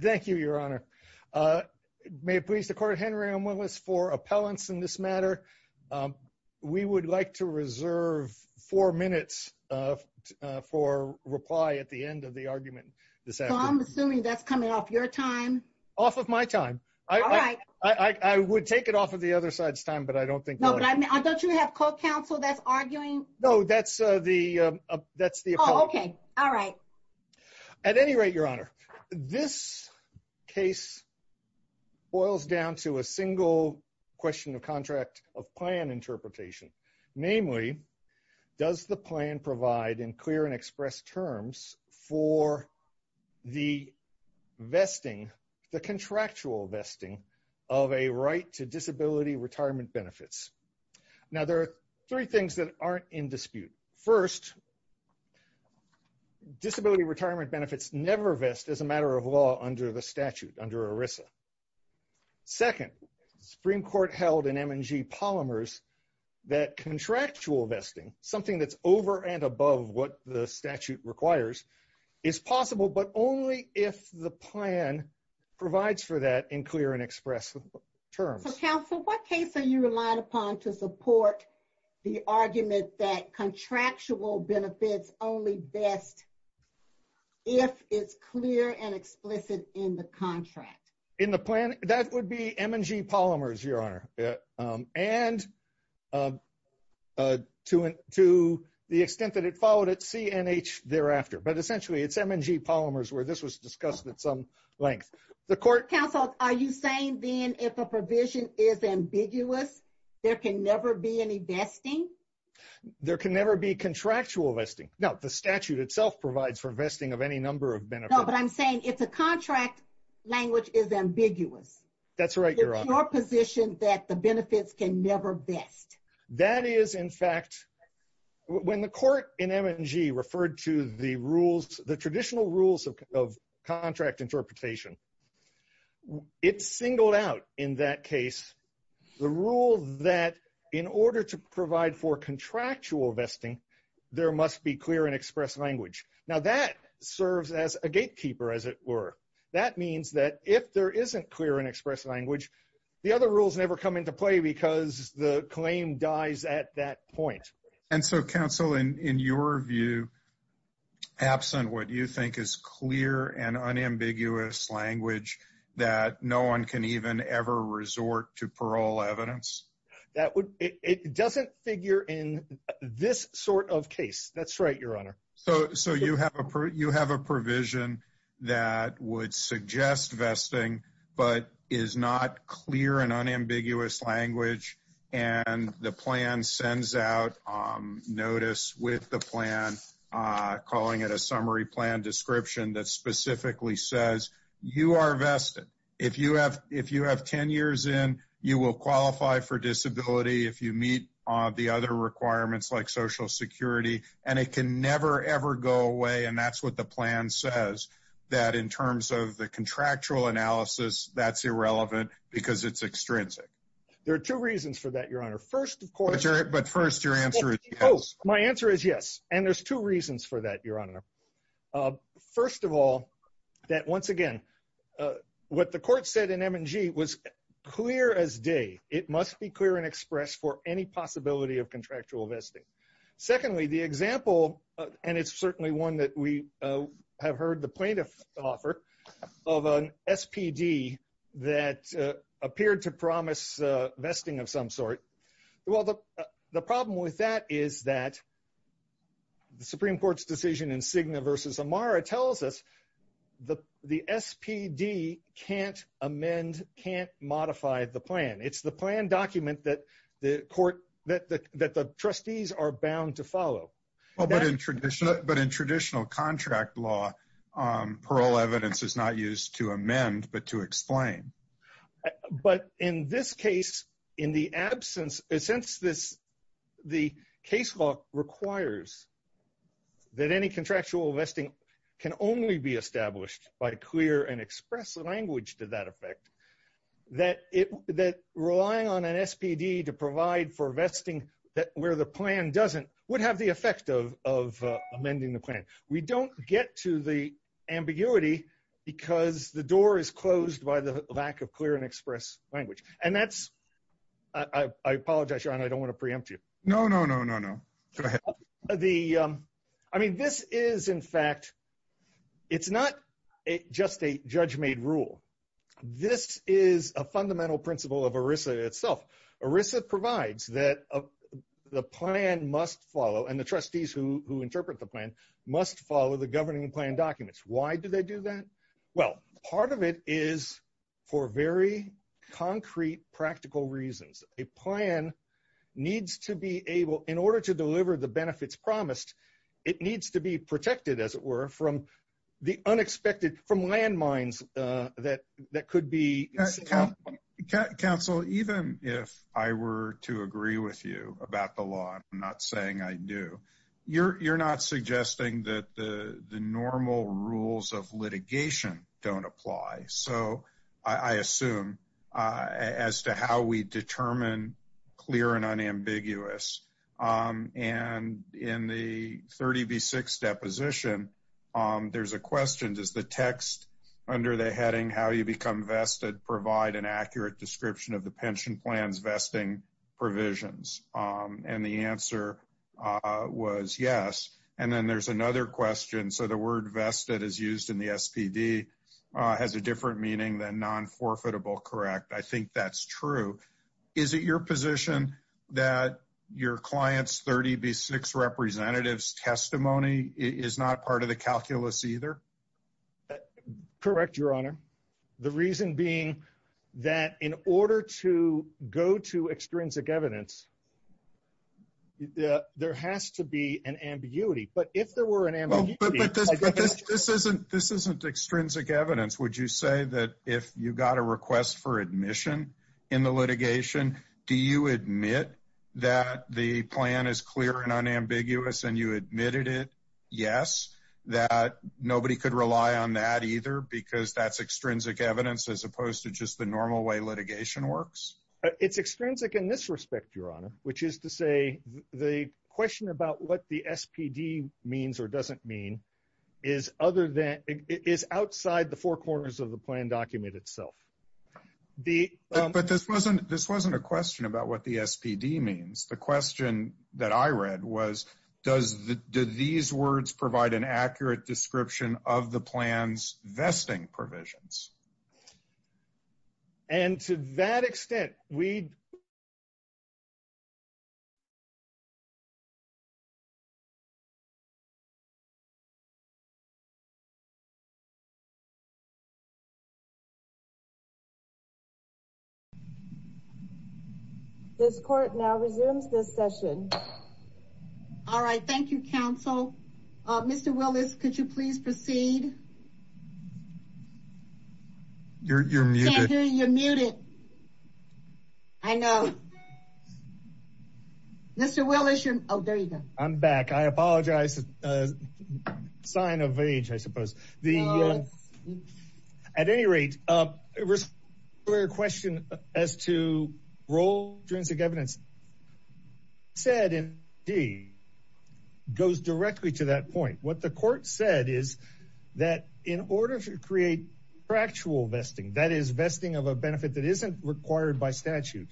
Thank you, Your Honor. May it please the Court, Henry M. Willis, for appellants in this matter. We would like to reserve four minutes for reply at the end of the argument this afternoon. So I'm assuming that's coming off your time? Off of my time. All right. I would take it off of the other side's time, but I don't think... No, but don't you have court counsel that's arguing? Oh, okay. All right. At any rate, Your Honor, this case boils down to a single question of contract of plan interpretation. Namely, does the plan provide in clear and expressed terms for the vesting, the contractual vesting of a right to disability retirement benefits? Now, there are three things that aren't in dispute. First, disability retirement benefits never vest as a matter of law under the statute, under ERISA. Second, the Supreme Court held in M&G Polymers that contractual vesting, something that's over and above what the statute requires, is possible, but only if the plan provides for that in clear and express terms. Counsel, what case are you relying upon to support the argument that contractual benefits only vest if it's clear and explicit in the contract? In the plan, that would be M&G Polymers, Your Honor, and to the extent that it followed at CNH thereafter. But essentially, it's M&G Polymers where this was discussed at some length. Counsel, are you saying then if a provision is ambiguous, there can never be any vesting? There can never be contractual vesting. No, the statute itself provides for vesting of any number of benefits. No, but I'm saying if the contract language is ambiguous. That's right, Your Honor. It's your position that the benefits can never vest. That is, in fact, when the court in M&G referred to the rules, the traditional rules of contract interpretation, it singled out in that case the rule that in order to provide for contractual vesting, there must be clear and express language. Now, that serves as a gatekeeper, as it were. That means that if there isn't clear and express language, the other rules never come into play because the claim dies at that point. And so, Counsel, in your view, absent what you think is clear and unambiguous language that no one can even ever resort to parole evidence? It doesn't figure in this sort of case. That's right, Your Honor. So you have a provision that would suggest vesting, but is not clear and unambiguous language, and the plan sends out notice with the plan calling it a summary plan description that specifically says you are vested. If you have 10 years in, you will qualify for disability if you meet the other requirements like Social Security, and it can never, ever go away, and that's what the plan says, that in terms of the contractual analysis, that's irrelevant because it's extrinsic. There are two reasons for that, Your Honor. But first, your answer is yes. My answer is yes, and there's two reasons for that, Your Honor. First of all, that once again, what the court said in M&G was clear as day. It must be clear and express for any possibility of contractual vesting. Secondly, the example, and it's certainly that we have heard the plaintiff offer of an SPD that appeared to promise vesting of some sort. Well, the problem with that is that the Supreme Court's decision in Cigna versus Amara tells us the SPD can't amend, can't modify the plan. It's the plan document that the trustees are bound to contract law. Parole evidence is not used to amend, but to explain. But in this case, in the absence, since the case law requires that any contractual vesting can only be established by clear and express language to that effect, that relying on an SPD to provide for vesting where the plan doesn't would have the effect of amending the plan. We don't get to the ambiguity because the door is closed by the lack of clear and express language. And that's, I apologize, Your Honor, I don't want to preempt you. No, no, no, no, no. Go ahead. I mean, this is in fact, it's not just a judge-made rule. This is a fundamental principle of ERISA itself. ERISA provides that the plan must follow, and the trustees who interpret the plan must follow the governing plan documents. Why do they do that? Well, part of it is for very concrete, practical reasons. A plan needs to be able, in order to deliver the benefits promised, it needs to be protected, as it were, from the unexpected, from landmines that could be- Counsel, even if I were to agree with you about the law, I'm not saying I do, you're not suggesting that the normal rules of litigation don't apply. So, I assume, as to how we determine clear and unambiguous. And in the 30B6 deposition, there's a question, does the text under the heading, how you become vested, provide an accurate description of the pension plan's vesting provisions? And the answer was yes. And then there's another question, so the word vested is used in the SPD, has a different meaning than non-forfeitable, correct? I think that's true. Is it your position that your client's 30B6 representative's testimony is not part of the calculus either? Correct, Your Honor. The reason being, that in order to go to extrinsic evidence, there has to be an ambiguity. But if there were an ambiguity- But this isn't extrinsic evidence. Would you say that if you got a request for admission in the litigation, do you admit that the plan is clear and unambiguous and you admitted it? Yes. That nobody could rely on that either because that's extrinsic evidence as opposed to just the normal way litigation works? It's extrinsic in this respect, Your Honor, which is to say the question about what the SPD means or doesn't mean is outside the four corners of the plan document itself. But this wasn't a question about what the SPD means. The question was, do these words provide an accurate description of the plan's vesting provisions? And to that extent, we- This court now resumes this session. All right. Thank you, counsel. Mr. Willis, could you please proceed? You're muted. I can't hear you. You're muted. I know. Mr. Willis, you're- Oh, there you go. I'm back. I apologize. Sign of age, I suppose. At any rate, the question as to role of extrinsic evidence said goes directly to that point. What the court said is that in order to create factual vesting, that is, vesting of a benefit that isn't required by statute,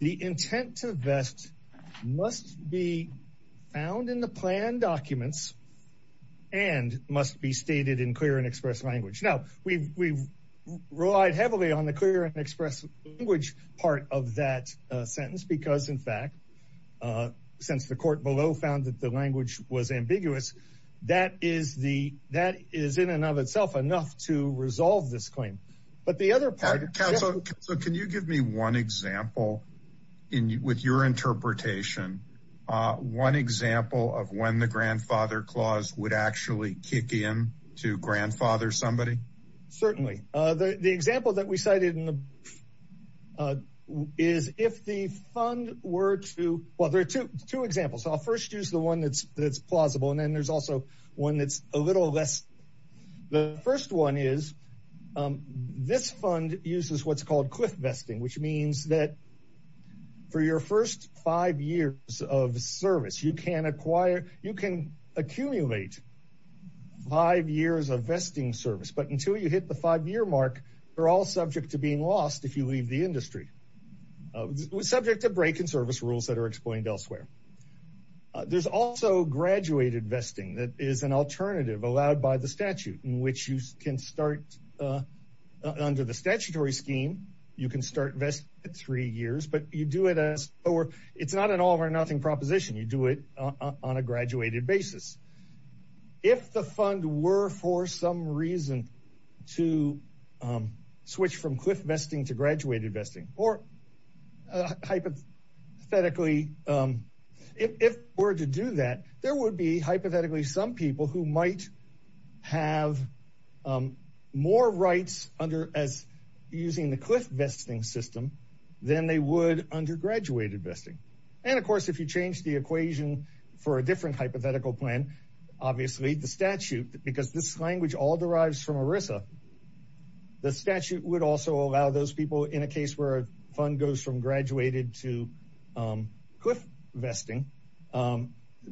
the intent to vest must be found in the plan documents and must be stated in clear and express language. Now, we relied heavily on the clear and express language part of that sentence because, in fact, since the court below found that the language was ambiguous, that is the- Resolve this claim. But the other part- Counsel, can you give me one example with your interpretation, one example of when the grandfather clause would actually kick in to grandfather somebody? Certainly. The example that we cited is if the fund were to- Well, there are two examples. I'll first use the one that's plausible, and then there's also one that's a little less. The first one is this fund uses what's called cliff vesting, which means that for your first five years of service, you can acquire, you can accumulate five years of vesting service. But until you hit the five-year mark, you're all subject to being lost if you leave the industry, subject to break and service rules that are explained elsewhere. There's also graduated vesting that is an alternative allowed by the statute in which you can start under the statutory scheme. You can start vesting at three years, but you do it as, or it's not an all or nothing proposition. You do it on a graduated basis. If the fund were for some reason to switch from cliff vesting to graduated vesting or hypothetically if it were to do that, there would be hypothetically some people who might have more rights under as using the cliff vesting system than they would under graduated vesting. And of course, if you change the equation for a different hypothetical plan, obviously the statute, because this language all derives from ERISA, the statute would also allow those people in a case where a fund goes from graduated to cliff vesting,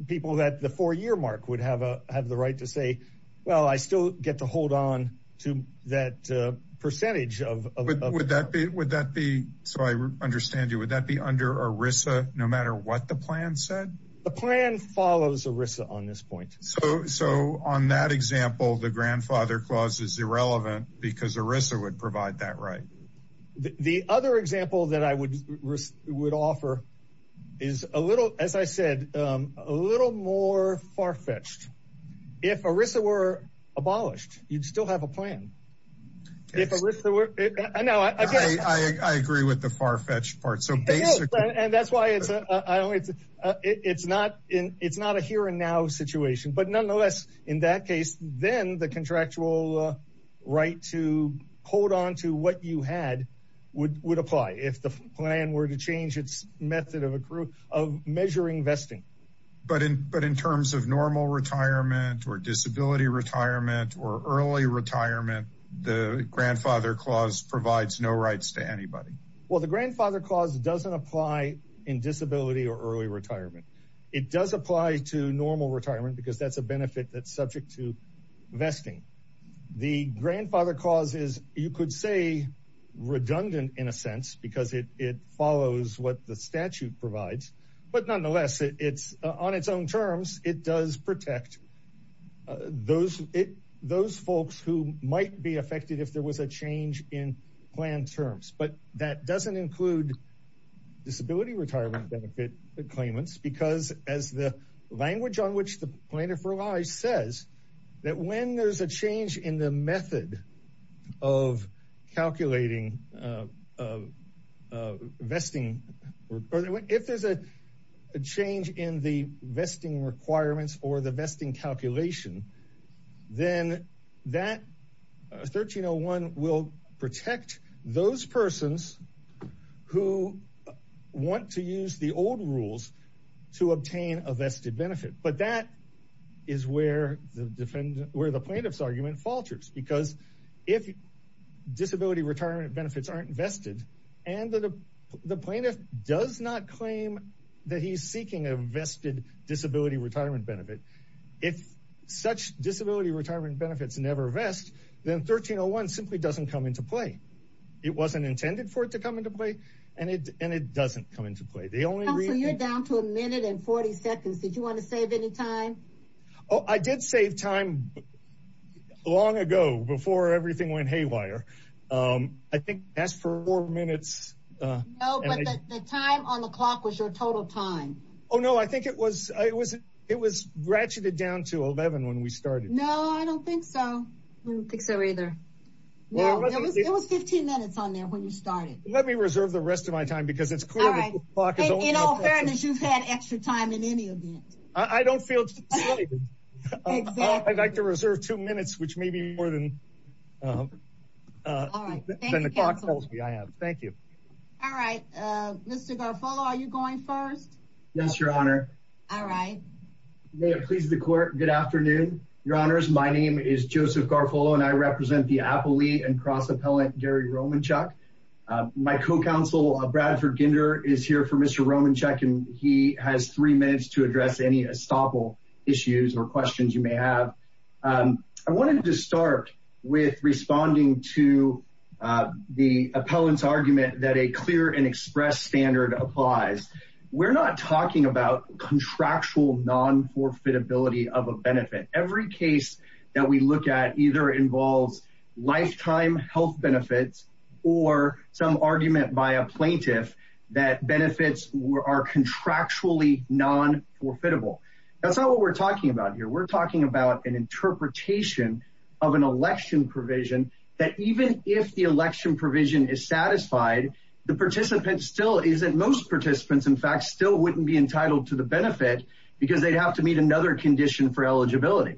people that the four-year mark would have the right to say, well, I still get to hold on to that percentage. Would that be, so I understand you, would that be under ERISA, no matter what the plan said? The plan follows ERISA on this point. So on that example, the grandfather clause is irrelevant because ERISA would provide that right. The other example that I would offer is a little, as I said, a little more far-fetched. If ERISA were abolished, you'd still have a plan. I agree with the far-fetched part. And that's why it's not a here and now situation, but nonetheless, in that case, then the contractual right to hold onto what you had would apply if the plan were to change its method of measuring vesting. But in terms of normal retirement or disability retirement or early retirement, the grandfather clause provides no rights to anybody. Well, the grandfather clause doesn't apply in disability or early retirement. It does apply to normal retirement because that's a benefit that's subject to vesting. The grandfather clause is, you could say, redundant in a sense because it follows what the statute provides. But nonetheless, it's on its own terms, it does protect those folks who might be affected if there was a change in plan terms. But that doesn't include disability retirement benefit claimants because as the language on which the plaintiff relies says that when there's a change in the method of calculating vesting, if there's a change in the vesting requirements or the vesting to obtain a vested benefit. But that is where the plaintiff's argument falters because if disability retirement benefits aren't vested and the plaintiff does not claim that he's seeking a vested disability retirement benefit, if such disability retirement benefits never vest, then 1301 simply doesn't come into play. It wasn't intended for it to come into play and it doesn't come into play. Also, you're down to a minute and 40 seconds. Did you want to save any time? Oh, I did save time long ago before everything went haywire. I think that's four minutes. No, but the time on the clock was your total time. Oh no, I think it was ratcheted down to 11 when we started. No, I don't think so. I don't think so either. Well, it was 15 minutes on there when you started. Let me reserve the rest of my time because it's clear that the clock is over. In all fairness, you've had extra time in any event. I don't feel I'd like to reserve two minutes, which may be more than the clock tells me I have. Thank you. All right. Mr. Garfolo, are you going first? Yes, your honor. All right. May it please the court. Good afternoon, your honors. My name is Joseph Garfolo and I represent the appellee and cross-appellant Gary Romanchuk. My co-counsel Bradford Ginder is here for Mr. Romanchuk and he has three minutes to address any estoppel issues or questions you may have. I wanted to start with responding to the appellant's argument that a clear and express standard applies. We're not talking about contractual non-forfeitability of a benefit. Every case that we look at either involves lifetime health benefits or some argument by a plaintiff that benefits are contractually non-forfeitable. That's not what we're talking about here. We're talking about an interpretation of an election provision that even if the election provision is satisfied, the participant still isn't, most participants in fact still wouldn't be entitled to the benefit because they'd have to meet another condition for eligibility.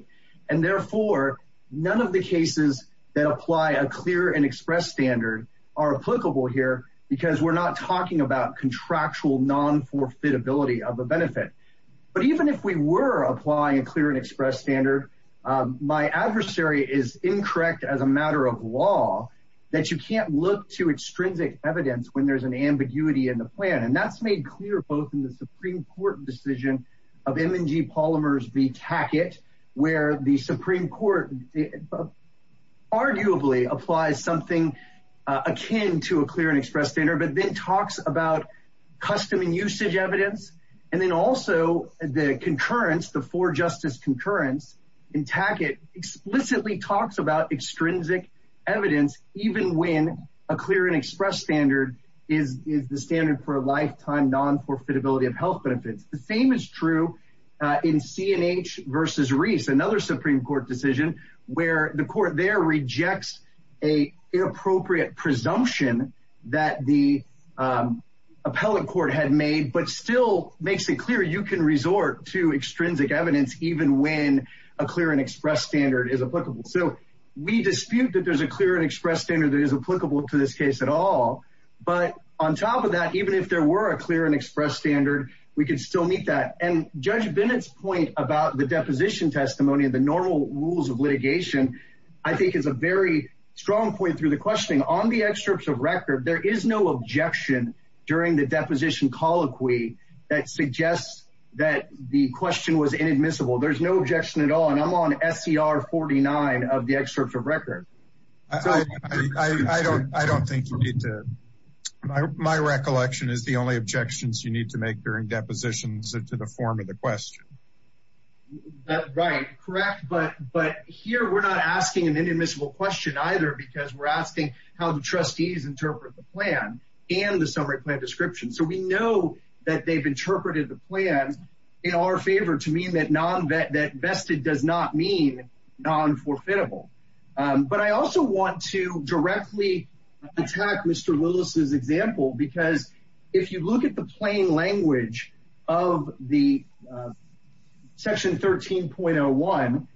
And therefore, none of the cases that apply a clear and express standard are applicable here because we're not talking about contractual non-forfeitability of a benefit. But even if we were applying a clear and express standard, my adversary is incorrect as a matter of law that you can't look to extrinsic evidence when there's an ambiguity in the plan. And that's made clear both in the Supreme Court decision of M&G Polymers v. Tackett, where the Supreme Court arguably applies something akin to a clear and express standard, but then talks about custom and usage evidence. And then also the concurrence, the four justice concurrence in Tackett explicitly talks about a clear and express standard is the standard for a lifetime non-forfeitability of health benefits. The same is true in C&H v. Reese, another Supreme Court decision where the court there rejects an inappropriate presumption that the appellate court had made, but still makes it clear you can resort to extrinsic evidence even when a clear and express standard is applicable. So we dispute that there's a clear and express standard that is applicable to this case at all. But on top of that, even if there were a clear and express standard, we could still meet that. And Judge Bennett's point about the deposition testimony and the normal rules of litigation, I think is a very strong point through the questioning. On the excerpts of record, there is no objection during the deposition colloquy that suggests that the question was inadmissible. There's no objection at all. And I'm not going to call on SCR 49 of the excerpts of record. I don't think you need to. My recollection is the only objections you need to make during depositions into the form of the question. Right. Correct. But here we're not asking an inadmissible question either because we're asking how the trustees interpret the plan and the summary plan description. So we know that they've interpreted the plan in our favor to mean that vested does not mean non-forfeitable. But I also want to directly attack Mr. Willis's example because if you look at the plain language of the section 13.01,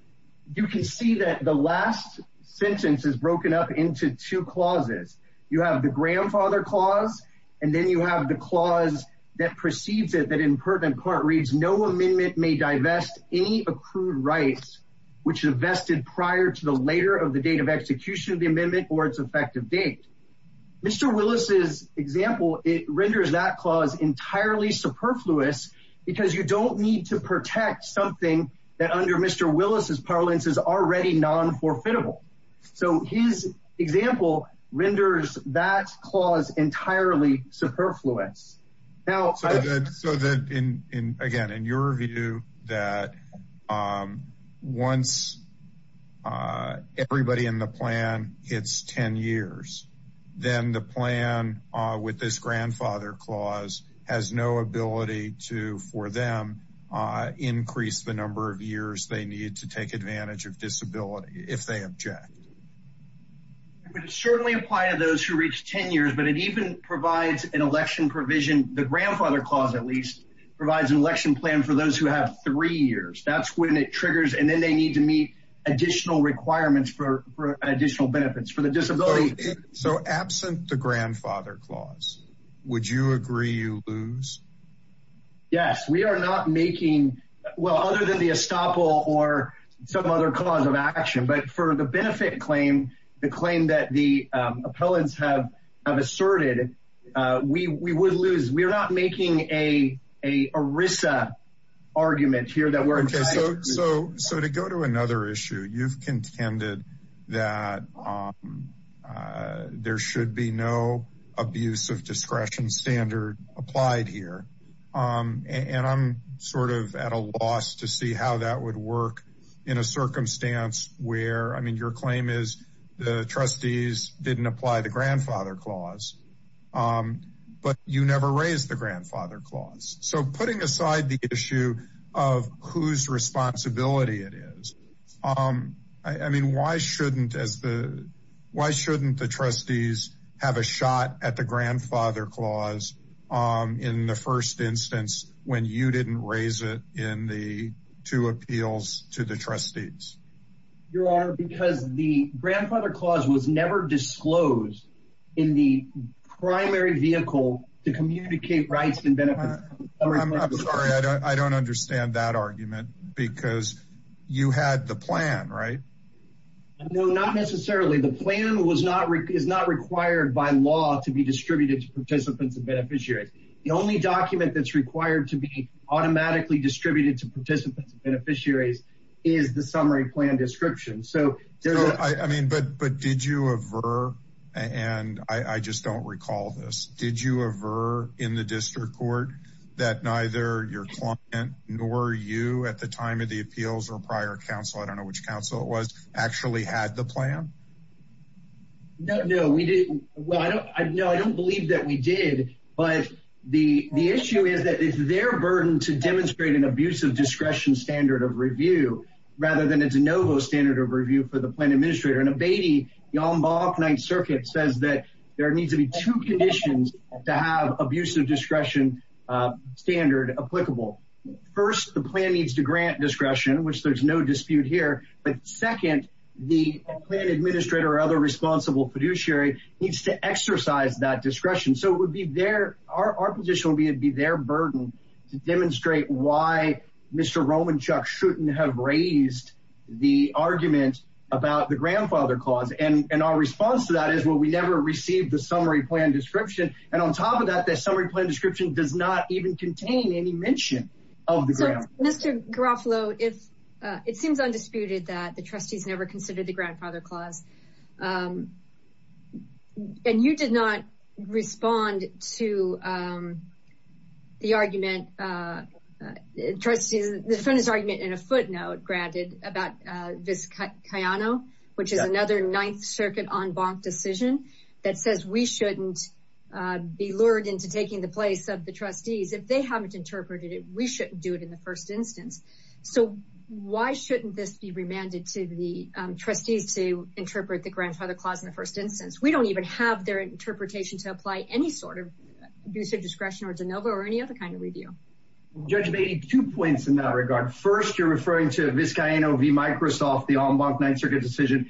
you can see that the last sentence is broken up into two clauses. You have the grandfather clause and then you have the clause that precedes it that in pertinent court reads no amendment may divest any accrued rights which is vested prior to the later of the date of execution of the amendment or its effective date. Mr. Willis's example, it renders that clause entirely superfluous because you don't need to protect something that under Mr. Willis's example renders that clause entirely superfluous. So then again in your view that once everybody in the plan hits 10 years, then the plan with this grandfather clause has no ability to for them increase the number of years they need to take advantage of disability if they object. It would certainly apply to those who reach 10 years but it even provides an election provision the grandfather clause at least provides an election plan for those who have three years. That's when it triggers and then they need to meet additional requirements for additional benefits for the disability. So absent the grandfather clause would you agree you lose? Yes we are not making well other than the estoppel or some other cause of action but for the benefit claim, the claim that the appellants have asserted, we would lose. We are not making an ERISA argument here. So to go to another issue, you've contended that there should be no abuse of discretion standard applied here and I'm sort of at a loss to see how that would work in a circumstance where I mean your claim is the trustees didn't apply the grandfather clause but you never raised the grandfather clause. So putting aside the issue of whose responsibility it is, I mean why shouldn't why shouldn't the trustees have a shot at the grandfather clause in the first instance when you didn't raise it in the two appeals to the trustees? Your honor because the grandfather clause was never disclosed in the primary vehicle to communicate rights and benefits. I'm sorry I don't understand that argument because you had the plan right? No not necessarily the plan was not required by law to be distributed to participants and beneficiaries. The only document that's required to be automatically distributed to participants and beneficiaries is the summary plan description. So I mean but did you ever and I just don't recall this, did you ever in the district court that neither your client nor you at the time of the appeals or prior council I don't know which council it was actually had the plan? No no we didn't well I don't I know I don't believe that we did but the the issue is that it's their burden to demonstrate an abuse of discretion standard of review rather than a de novo standard of review for the plan administrator the almanac night circuit says that there needs to be two conditions to have abuse of discretion standard applicable. First the plan needs to grant discretion which there's no dispute here but second the plan administrator or other responsible fiduciary needs to exercise that discretion so it would be their our position would be their burden to demonstrate why Mr. Romanchuk shouldn't have raised the argument about the grandfather clause and and our response to that is well we never received the summary plan description and on top of that that summary plan description does not even contain any mention of the grant. Mr Garofalo if it seems undisputed that the trustees never considered the grandfather clause um and you did not respond to um the argument uh trustees the front is argument in a footnote granted about uh this Kayano which is another ninth circuit en banc decision that says we shouldn't uh be lured into taking the place of the trustees if they haven't interpreted it we shouldn't do it in the first instance so why shouldn't this be remanded to the trustees to interpret the grandfather clause in the first instance we don't even have their interpretation to apply any sort of abusive discretion or de novo or any other kind of review judge made two points in that regard first you're referring to this guy you know v microsoft the en banc ninth circuit decision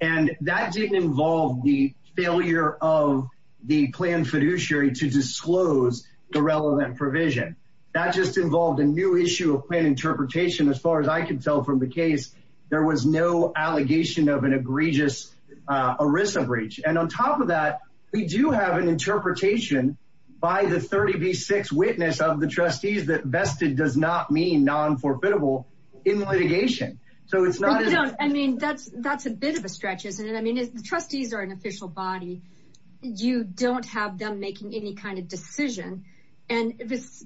and that didn't involve the failure of the plan fiduciary to disclose the relevant provision that just involved a new issue of plan interpretation as far as i can tell from the case there was no allegation of an egregious uh erisa breach and on top of that we do have an interpretation by the 30b6 witness of the trustees that vested does not mean non-forbidable in litigation so it's not i mean that's that's a bit of a stretch isn't it i mean the trustees are an official body you don't have them making any kind of decision and this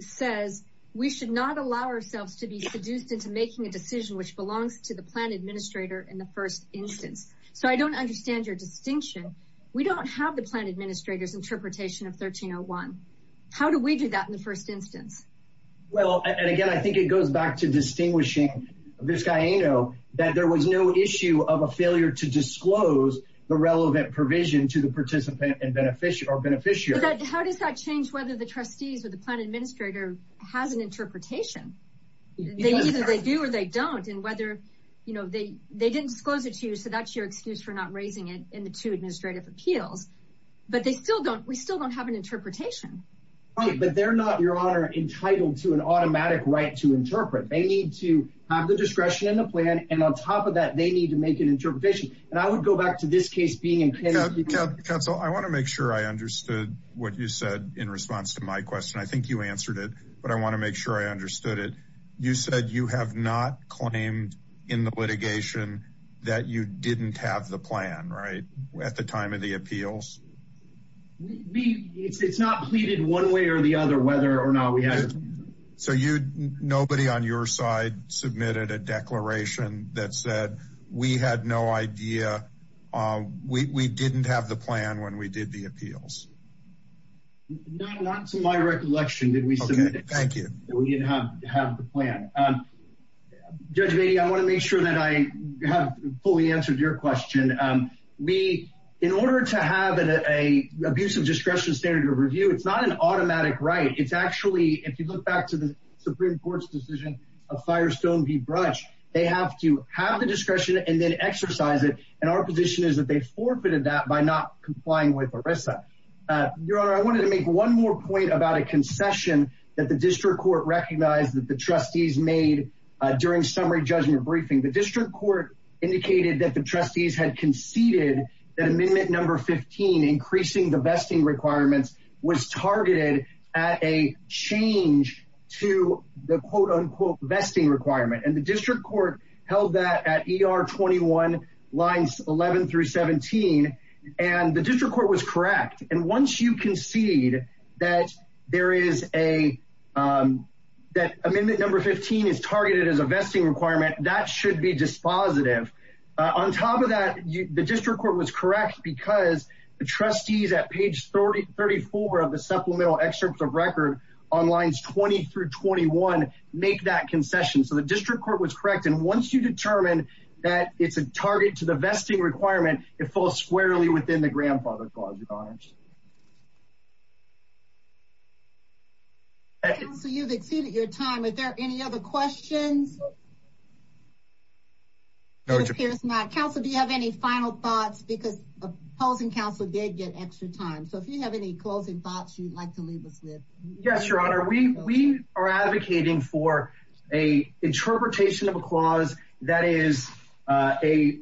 says we should not allow ourselves to be seduced into making a decision which belongs to the plan administrator in the first instance so i don't understand your distinction we don't have the plan administrator's interpretation of 1301 how do we do that in the first instance well and again i think it goes back to distinguishing this guy you know that there was no issue of a failure to disclose the relevant provision to the participant and beneficial beneficiary how does that change whether the trustees or the plan administrator has an interpretation they either they do or they don't and whether you know they they didn't disclose it to you so that's your excuse for not raising it in the two administrative appeals but they still don't we still don't have an interpretation right but they're not your honor entitled to an automatic right to interpret they need to have the discretion in the plan and on top of that they need to make an interpretation and i would go back to this case being in pencil i want to make sure i understood what you said in response to my question i think you answered it but i want to make sure i understood it you said you have not claimed in the litigation that you didn't have the plan right at the time of the appeals we it's not pleaded one way or the other whether or not we have so you nobody on your side submitted a declaration that said we had no idea uh we we didn't have the plan when we did the not to my recollection did we submit it thank you we didn't have to have the plan um judge baby i want to make sure that i have fully answered your question um we in order to have an a abuse of discretion standard of review it's not an automatic right it's actually if you look back to the supreme court's decision of firestone v brush they have to have the discretion and then exercise it and our position is that they forfeited that by not complying with a concession that the district court recognized that the trustees made during summary judgment briefing the district court indicated that the trustees had conceded that amendment number 15 increasing the vesting requirements was targeted at a change to the quote-unquote vesting requirement and the district court held that at er 21 lines 11 through 17 and the district court was correct and once you concede that there is a um that amendment number 15 is targeted as a vesting requirement that should be dispositive on top of that the district court was correct because the trustees at page 30 34 of the supplemental excerpts of record on lines 20 through 21 make that concession so the district court was correct and once you determine that it's a target to the district court it should be dispositive on top of that and that's what we're trying to do so you've exceeded your time are there any other questions no it appears not council do you have any final thoughts because opposing council did get extra time so if you have any closing thoughts you'd like to leave us with yes your honor we we are advocating for a interpretation of a clause that is uh a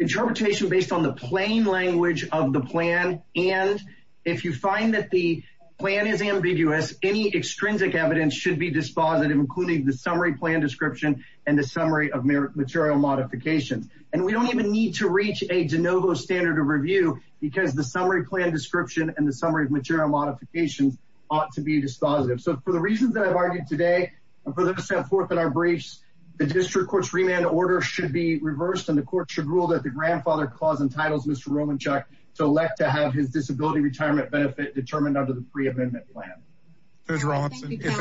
interpretation based on the plain language of the plan and if you find that the plan is ambiguous any extrinsic evidence should be dispositive including the summary plan description and the summary of material modifications and we don't even need to reach a de novo standard of review because the summary plan description and the summary of material modifications ought to be dispositive so for the reasons that i've argued today and for the step forth in our briefs the clause entitles mr romanchuk to elect to have his disability retirement benefit determined under the pre-amendment plan if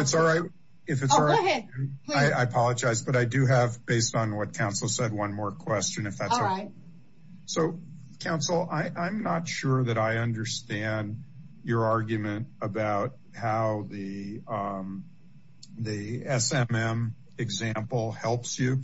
it's all right if it's all right i apologize but i do have based on what council said one more question if that's all right so council i i'm not sure that i understand your argument about how the um the smm example helps you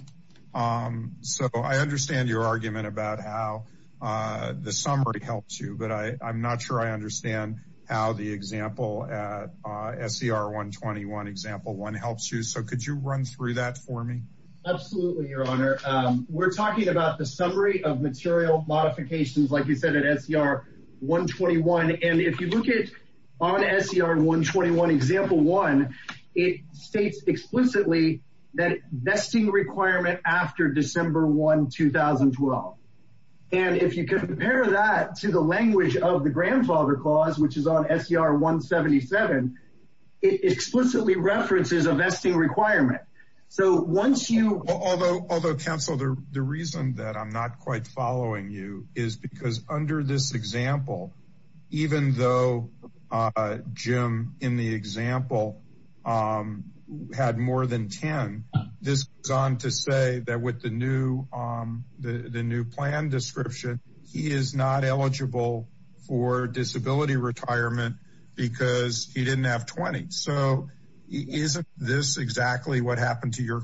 um so i understand your argument about how uh the summary helps you but i i'm not sure i understand how the example at uh ser 121 example one helps you so could you run through that for me absolutely your honor um we're talking about the summary of material modifications like you said at ser 121 and if you look at on ser 121 one it states explicitly that vesting requirement after december 1 2012 and if you compare that to the language of the grandfather clause which is on ser 177 it explicitly references a vesting requirement so once you although although counsel the reason that i'm not quite following you is because under this example even though uh jim in the example um had more than 10 this is on to say that with the new um the the new plan description he is not eligible for disability retirement because he didn't have 20 so isn't this exactly what happened to your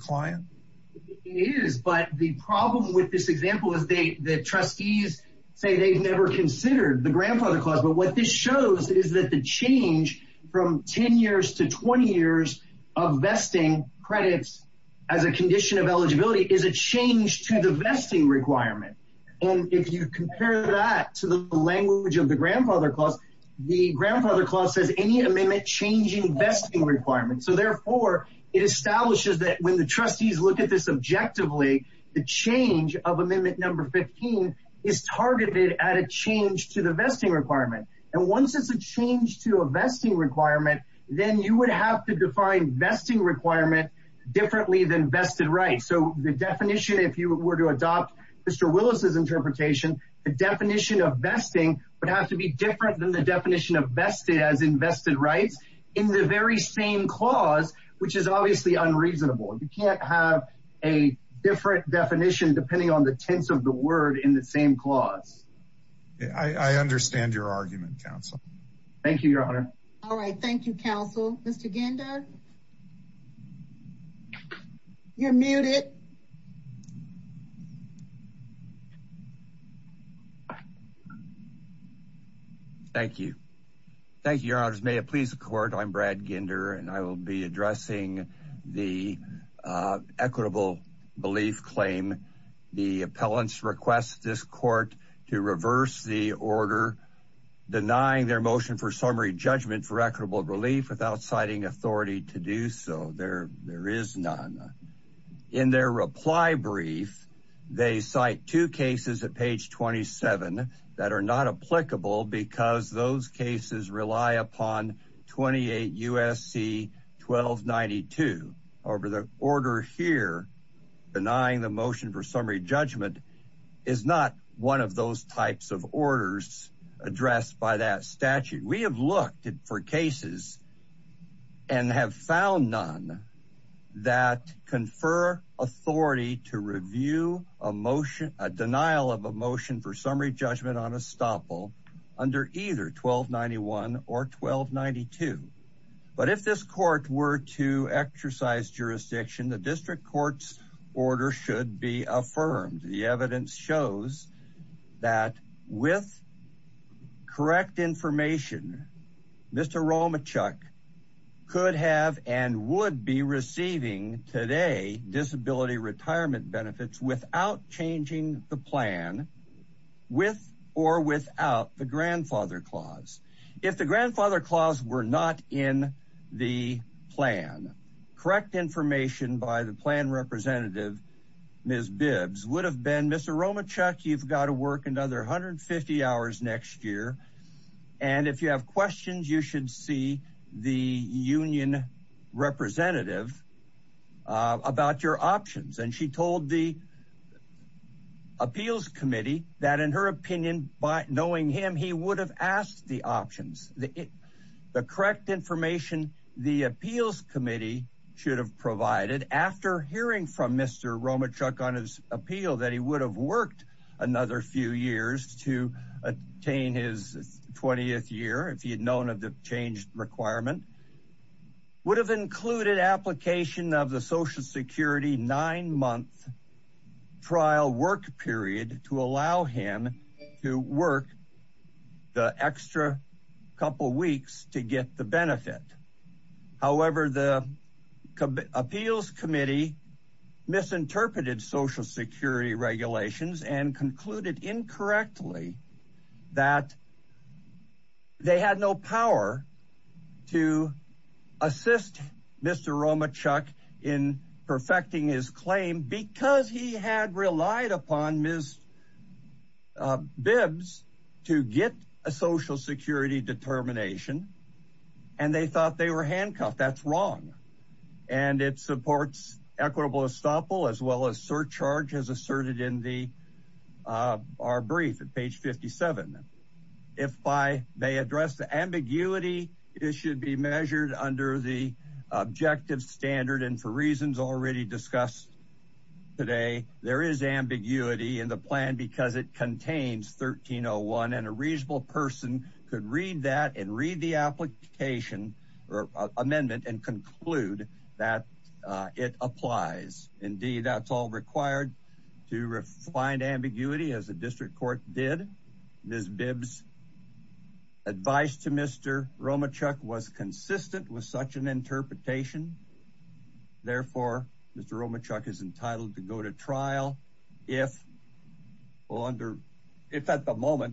say they've never considered the grandfather clause but what this shows is that the change from 10 years to 20 years of vesting credits as a condition of eligibility is a change to the vesting requirement and if you compare that to the language of the grandfather clause the grandfather clause says any amendment changing vesting requirements so therefore it establishes that when the trustees look at this objectively the change of amendment number 15 is targeted at a change to the vesting requirement and once it's a change to a vesting requirement then you would have to define vesting requirement differently than vested rights so the definition if you were to adopt mr willis's interpretation the definition of vesting would have to be different than the definition of vested as invested rights in the very same clause which is obviously unreasonable you can't have a different definition depending on the tense of the word in the same clause i i understand your argument counsel thank you your honor all right thank you counsel mr ginder you're muted thank you thank you your honors may it please the court i'm brad ginder and i will be addressing the equitable belief claim the appellants request this court to reverse the order denying their motion for summary judgment for equitable relief without citing authority to do so there there is none in their reply brief they cite two cases at page 27 that are not applicable because those usc 1292 over the order here denying the motion for summary judgment is not one of those types of orders addressed by that statute we have looked for cases and have found none that confer authority to review a motion a denial of a motion for summary judgment on estoppel under either 1291 or 1292 but if this court were to exercise jurisdiction the district court's order should be affirmed the evidence shows that with correct information mr romichuk could have and would be receiving today disability retirement benefits without changing the plan with or without the grandfather clause if the grandfather clause were not in the plan correct information by the plan representative ms bibbs would have been mr romichuk you've got to work another 150 hours next year and if you have questions you should see the union representative uh about your options and she told the appeals committee that in her opinion by knowing him he would have asked the options the the correct information the appeals committee should have provided after hearing from mr romichuk on his appeal that he would have worked another few years to attain his 20th year if he had known of the change requirement would have included application of the social security nine month trial work period to allow him to work the extra couple weeks to get the benefit however the appeals committee misinterpreted social security regulations and concluded incorrectly that they had no power to assist mr romichuk in perfecting his claim because he had relied upon ms bibbs to get a social security determination and they thought they were handcuffed that's wrong and it supports equitable estoppel as well as charges asserted in the uh our brief at page 57 if i may address the ambiguity it should be measured under the objective standard and for reasons already discussed today there is ambiguity in the plan because it contains 1301 and a reasonable person could read that and read the application or amendment and conclude that it applies indeed that's all required to refine ambiguity as the district court did ms bibbs advice to mr romichuk was consistent with such an interpretation therefore mr romichuk is entitled to go to trial if well under if at the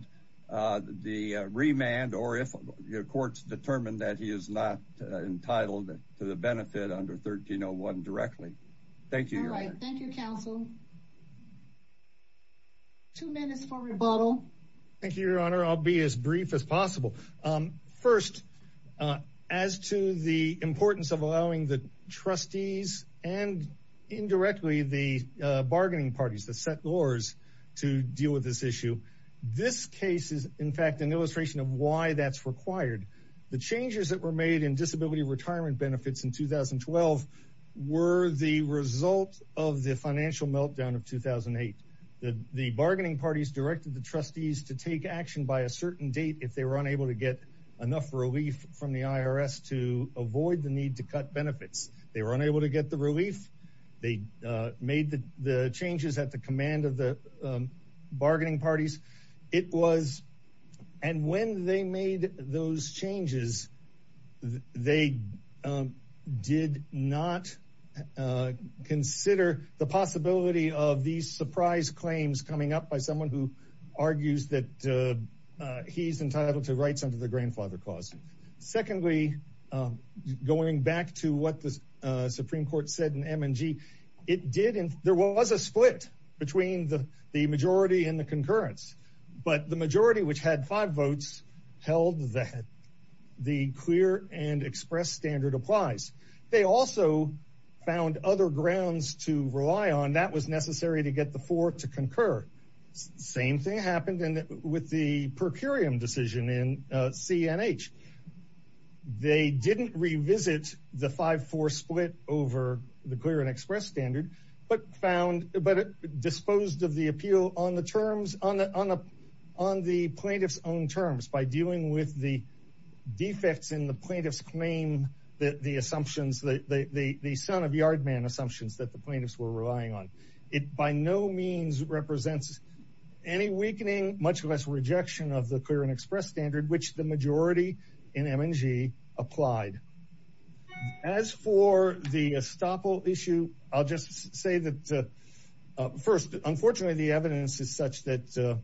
entitled to the benefit under 1301 directly thank you all right thank you council two minutes for rebuttal thank you your honor i'll be as brief as possible um first uh as to the importance of allowing the trustees and indirectly the uh bargaining parties to set laws to deal with this issue this case is in fact an illustration of why that's required the changes that were made in disability retirement benefits in 2012 were the result of the financial meltdown of 2008 the the bargaining parties directed the trustees to take action by a certain date if they were unable to get enough relief from the irs to avoid the need to cut benefits they were unable to get the relief they uh made the the changes at the command of the bargaining parties it was and when they made those changes they did not consider the possibility of these surprise claims coming up by someone who argues that he's entitled to rights under the grandfather clause secondly going back to what supreme court said in m and g it did and there was a split between the the majority and the concurrence but the majority which had five votes held that the clear and express standard applies they also found other grounds to rely on that was necessary to get the four to concur same thing happened and with the per curiam decision in cnh they didn't revisit the 5-4 split over the clear and express standard but found but disposed of the appeal on the terms on the on the plaintiffs own terms by dealing with the defects in the plaintiffs claim that the assumptions the the the son of yard man assumptions that the plaintiffs were relying on it by no means represents any weakening much less rejection of the clear and express standard which the majority in mng applied as for the estoppel issue i'll just say that first unfortunately the evidence is such that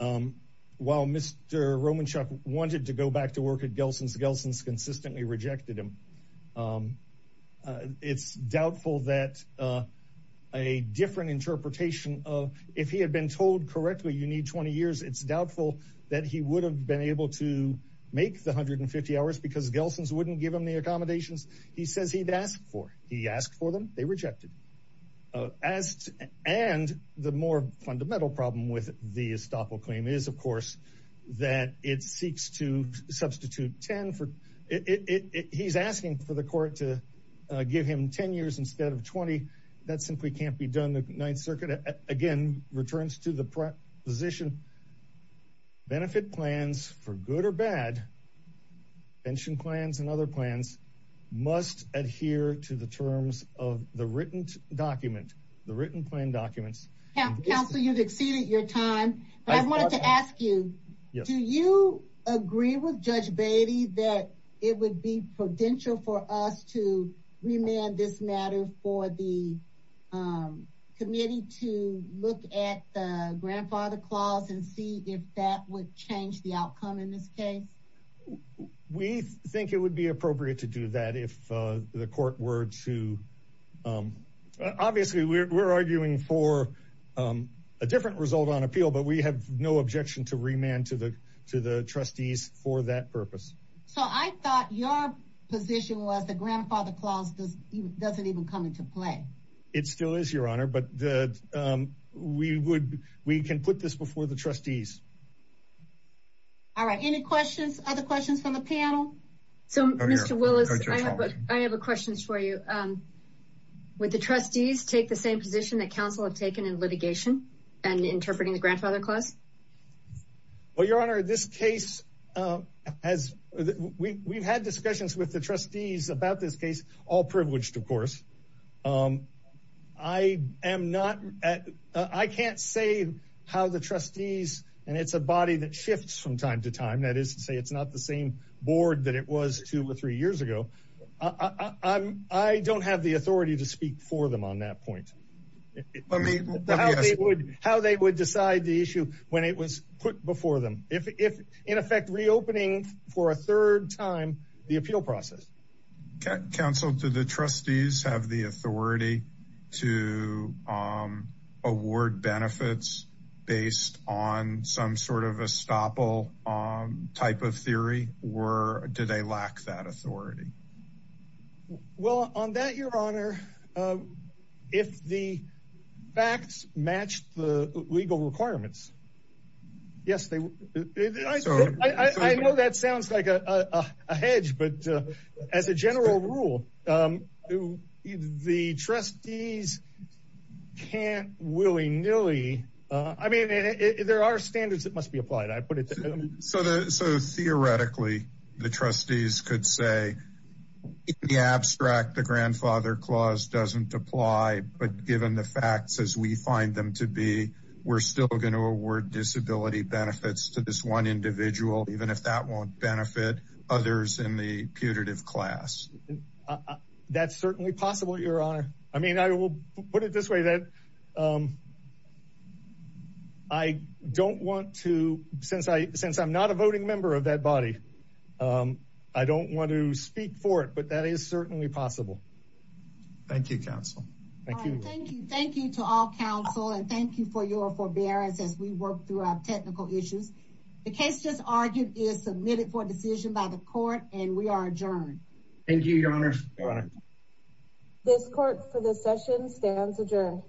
um while mr romanchuk wanted to go back to work at gelsons gelsons rejected him um it's doubtful that uh a different interpretation of if he had been told correctly you need 20 years it's doubtful that he would have been able to make the 150 hours because gelsons wouldn't give him the accommodations he says he'd asked for he asked for them they rejected as and the more fundamental problem with the estoppel claim is of course that it seeks to he's asking for the court to give him 10 years instead of 20 that simply can't be done the ninth circuit again returns to the proposition benefit plans for good or bad pension plans and other plans must adhere to the terms of the written document the written plan documents council you've it would be prudential for us to remand this matter for the um committee to look at the grandfather clause and see if that would change the outcome in this case we think it would be appropriate to do that if uh the court were to um obviously we're arguing for um a different result on appeal but we have no objection to remand to the to the trustees for that purpose so i thought your position was the grandfather clause does doesn't even come into play it still is your honor but the um we would we can put this before the trustees all right any questions other questions from the panel so mr willis i have a question for you um would the trustees take the same position that council have taken in litigation and interpreting the grandfather clause well your honor this case um as we we've had discussions with the trustees about this case all privileged of course um i am not at i can't say how the trustees and it's a body that shifts from time to time that is to say it's not the same board that it was two or three years ago i i'm i don't have the authority to speak for them on that point let me how they would how they would decide the issue when it was put before them if if in effect reopening for a third time the appeal process council to the trustees have the authority to um award benefits based on some sort of estoppel um type of theory or do they lack that authority well on that your honor if the facts match the legal requirements yes they i know that sounds like a a hedge but as a general rule um the trustees can't willy-nilly uh i mean there are standards that so the so theoretically the trustees could say in the abstract the grandfather clause doesn't apply but given the facts as we find them to be we're still going to award disability benefits to this one individual even if that won't benefit others in the putative class that's certainly possible your honor i mean i will put it this way that um i don't want to since i since i'm not a voting member of that body um i don't want to speak for it but that is certainly possible thank you council thank you thank you thank you to all council and thank you for your forbearance as we work through our technical issues the case just argued is submitted for decision by the court and we are thank you your honor this court for the session stands adjourned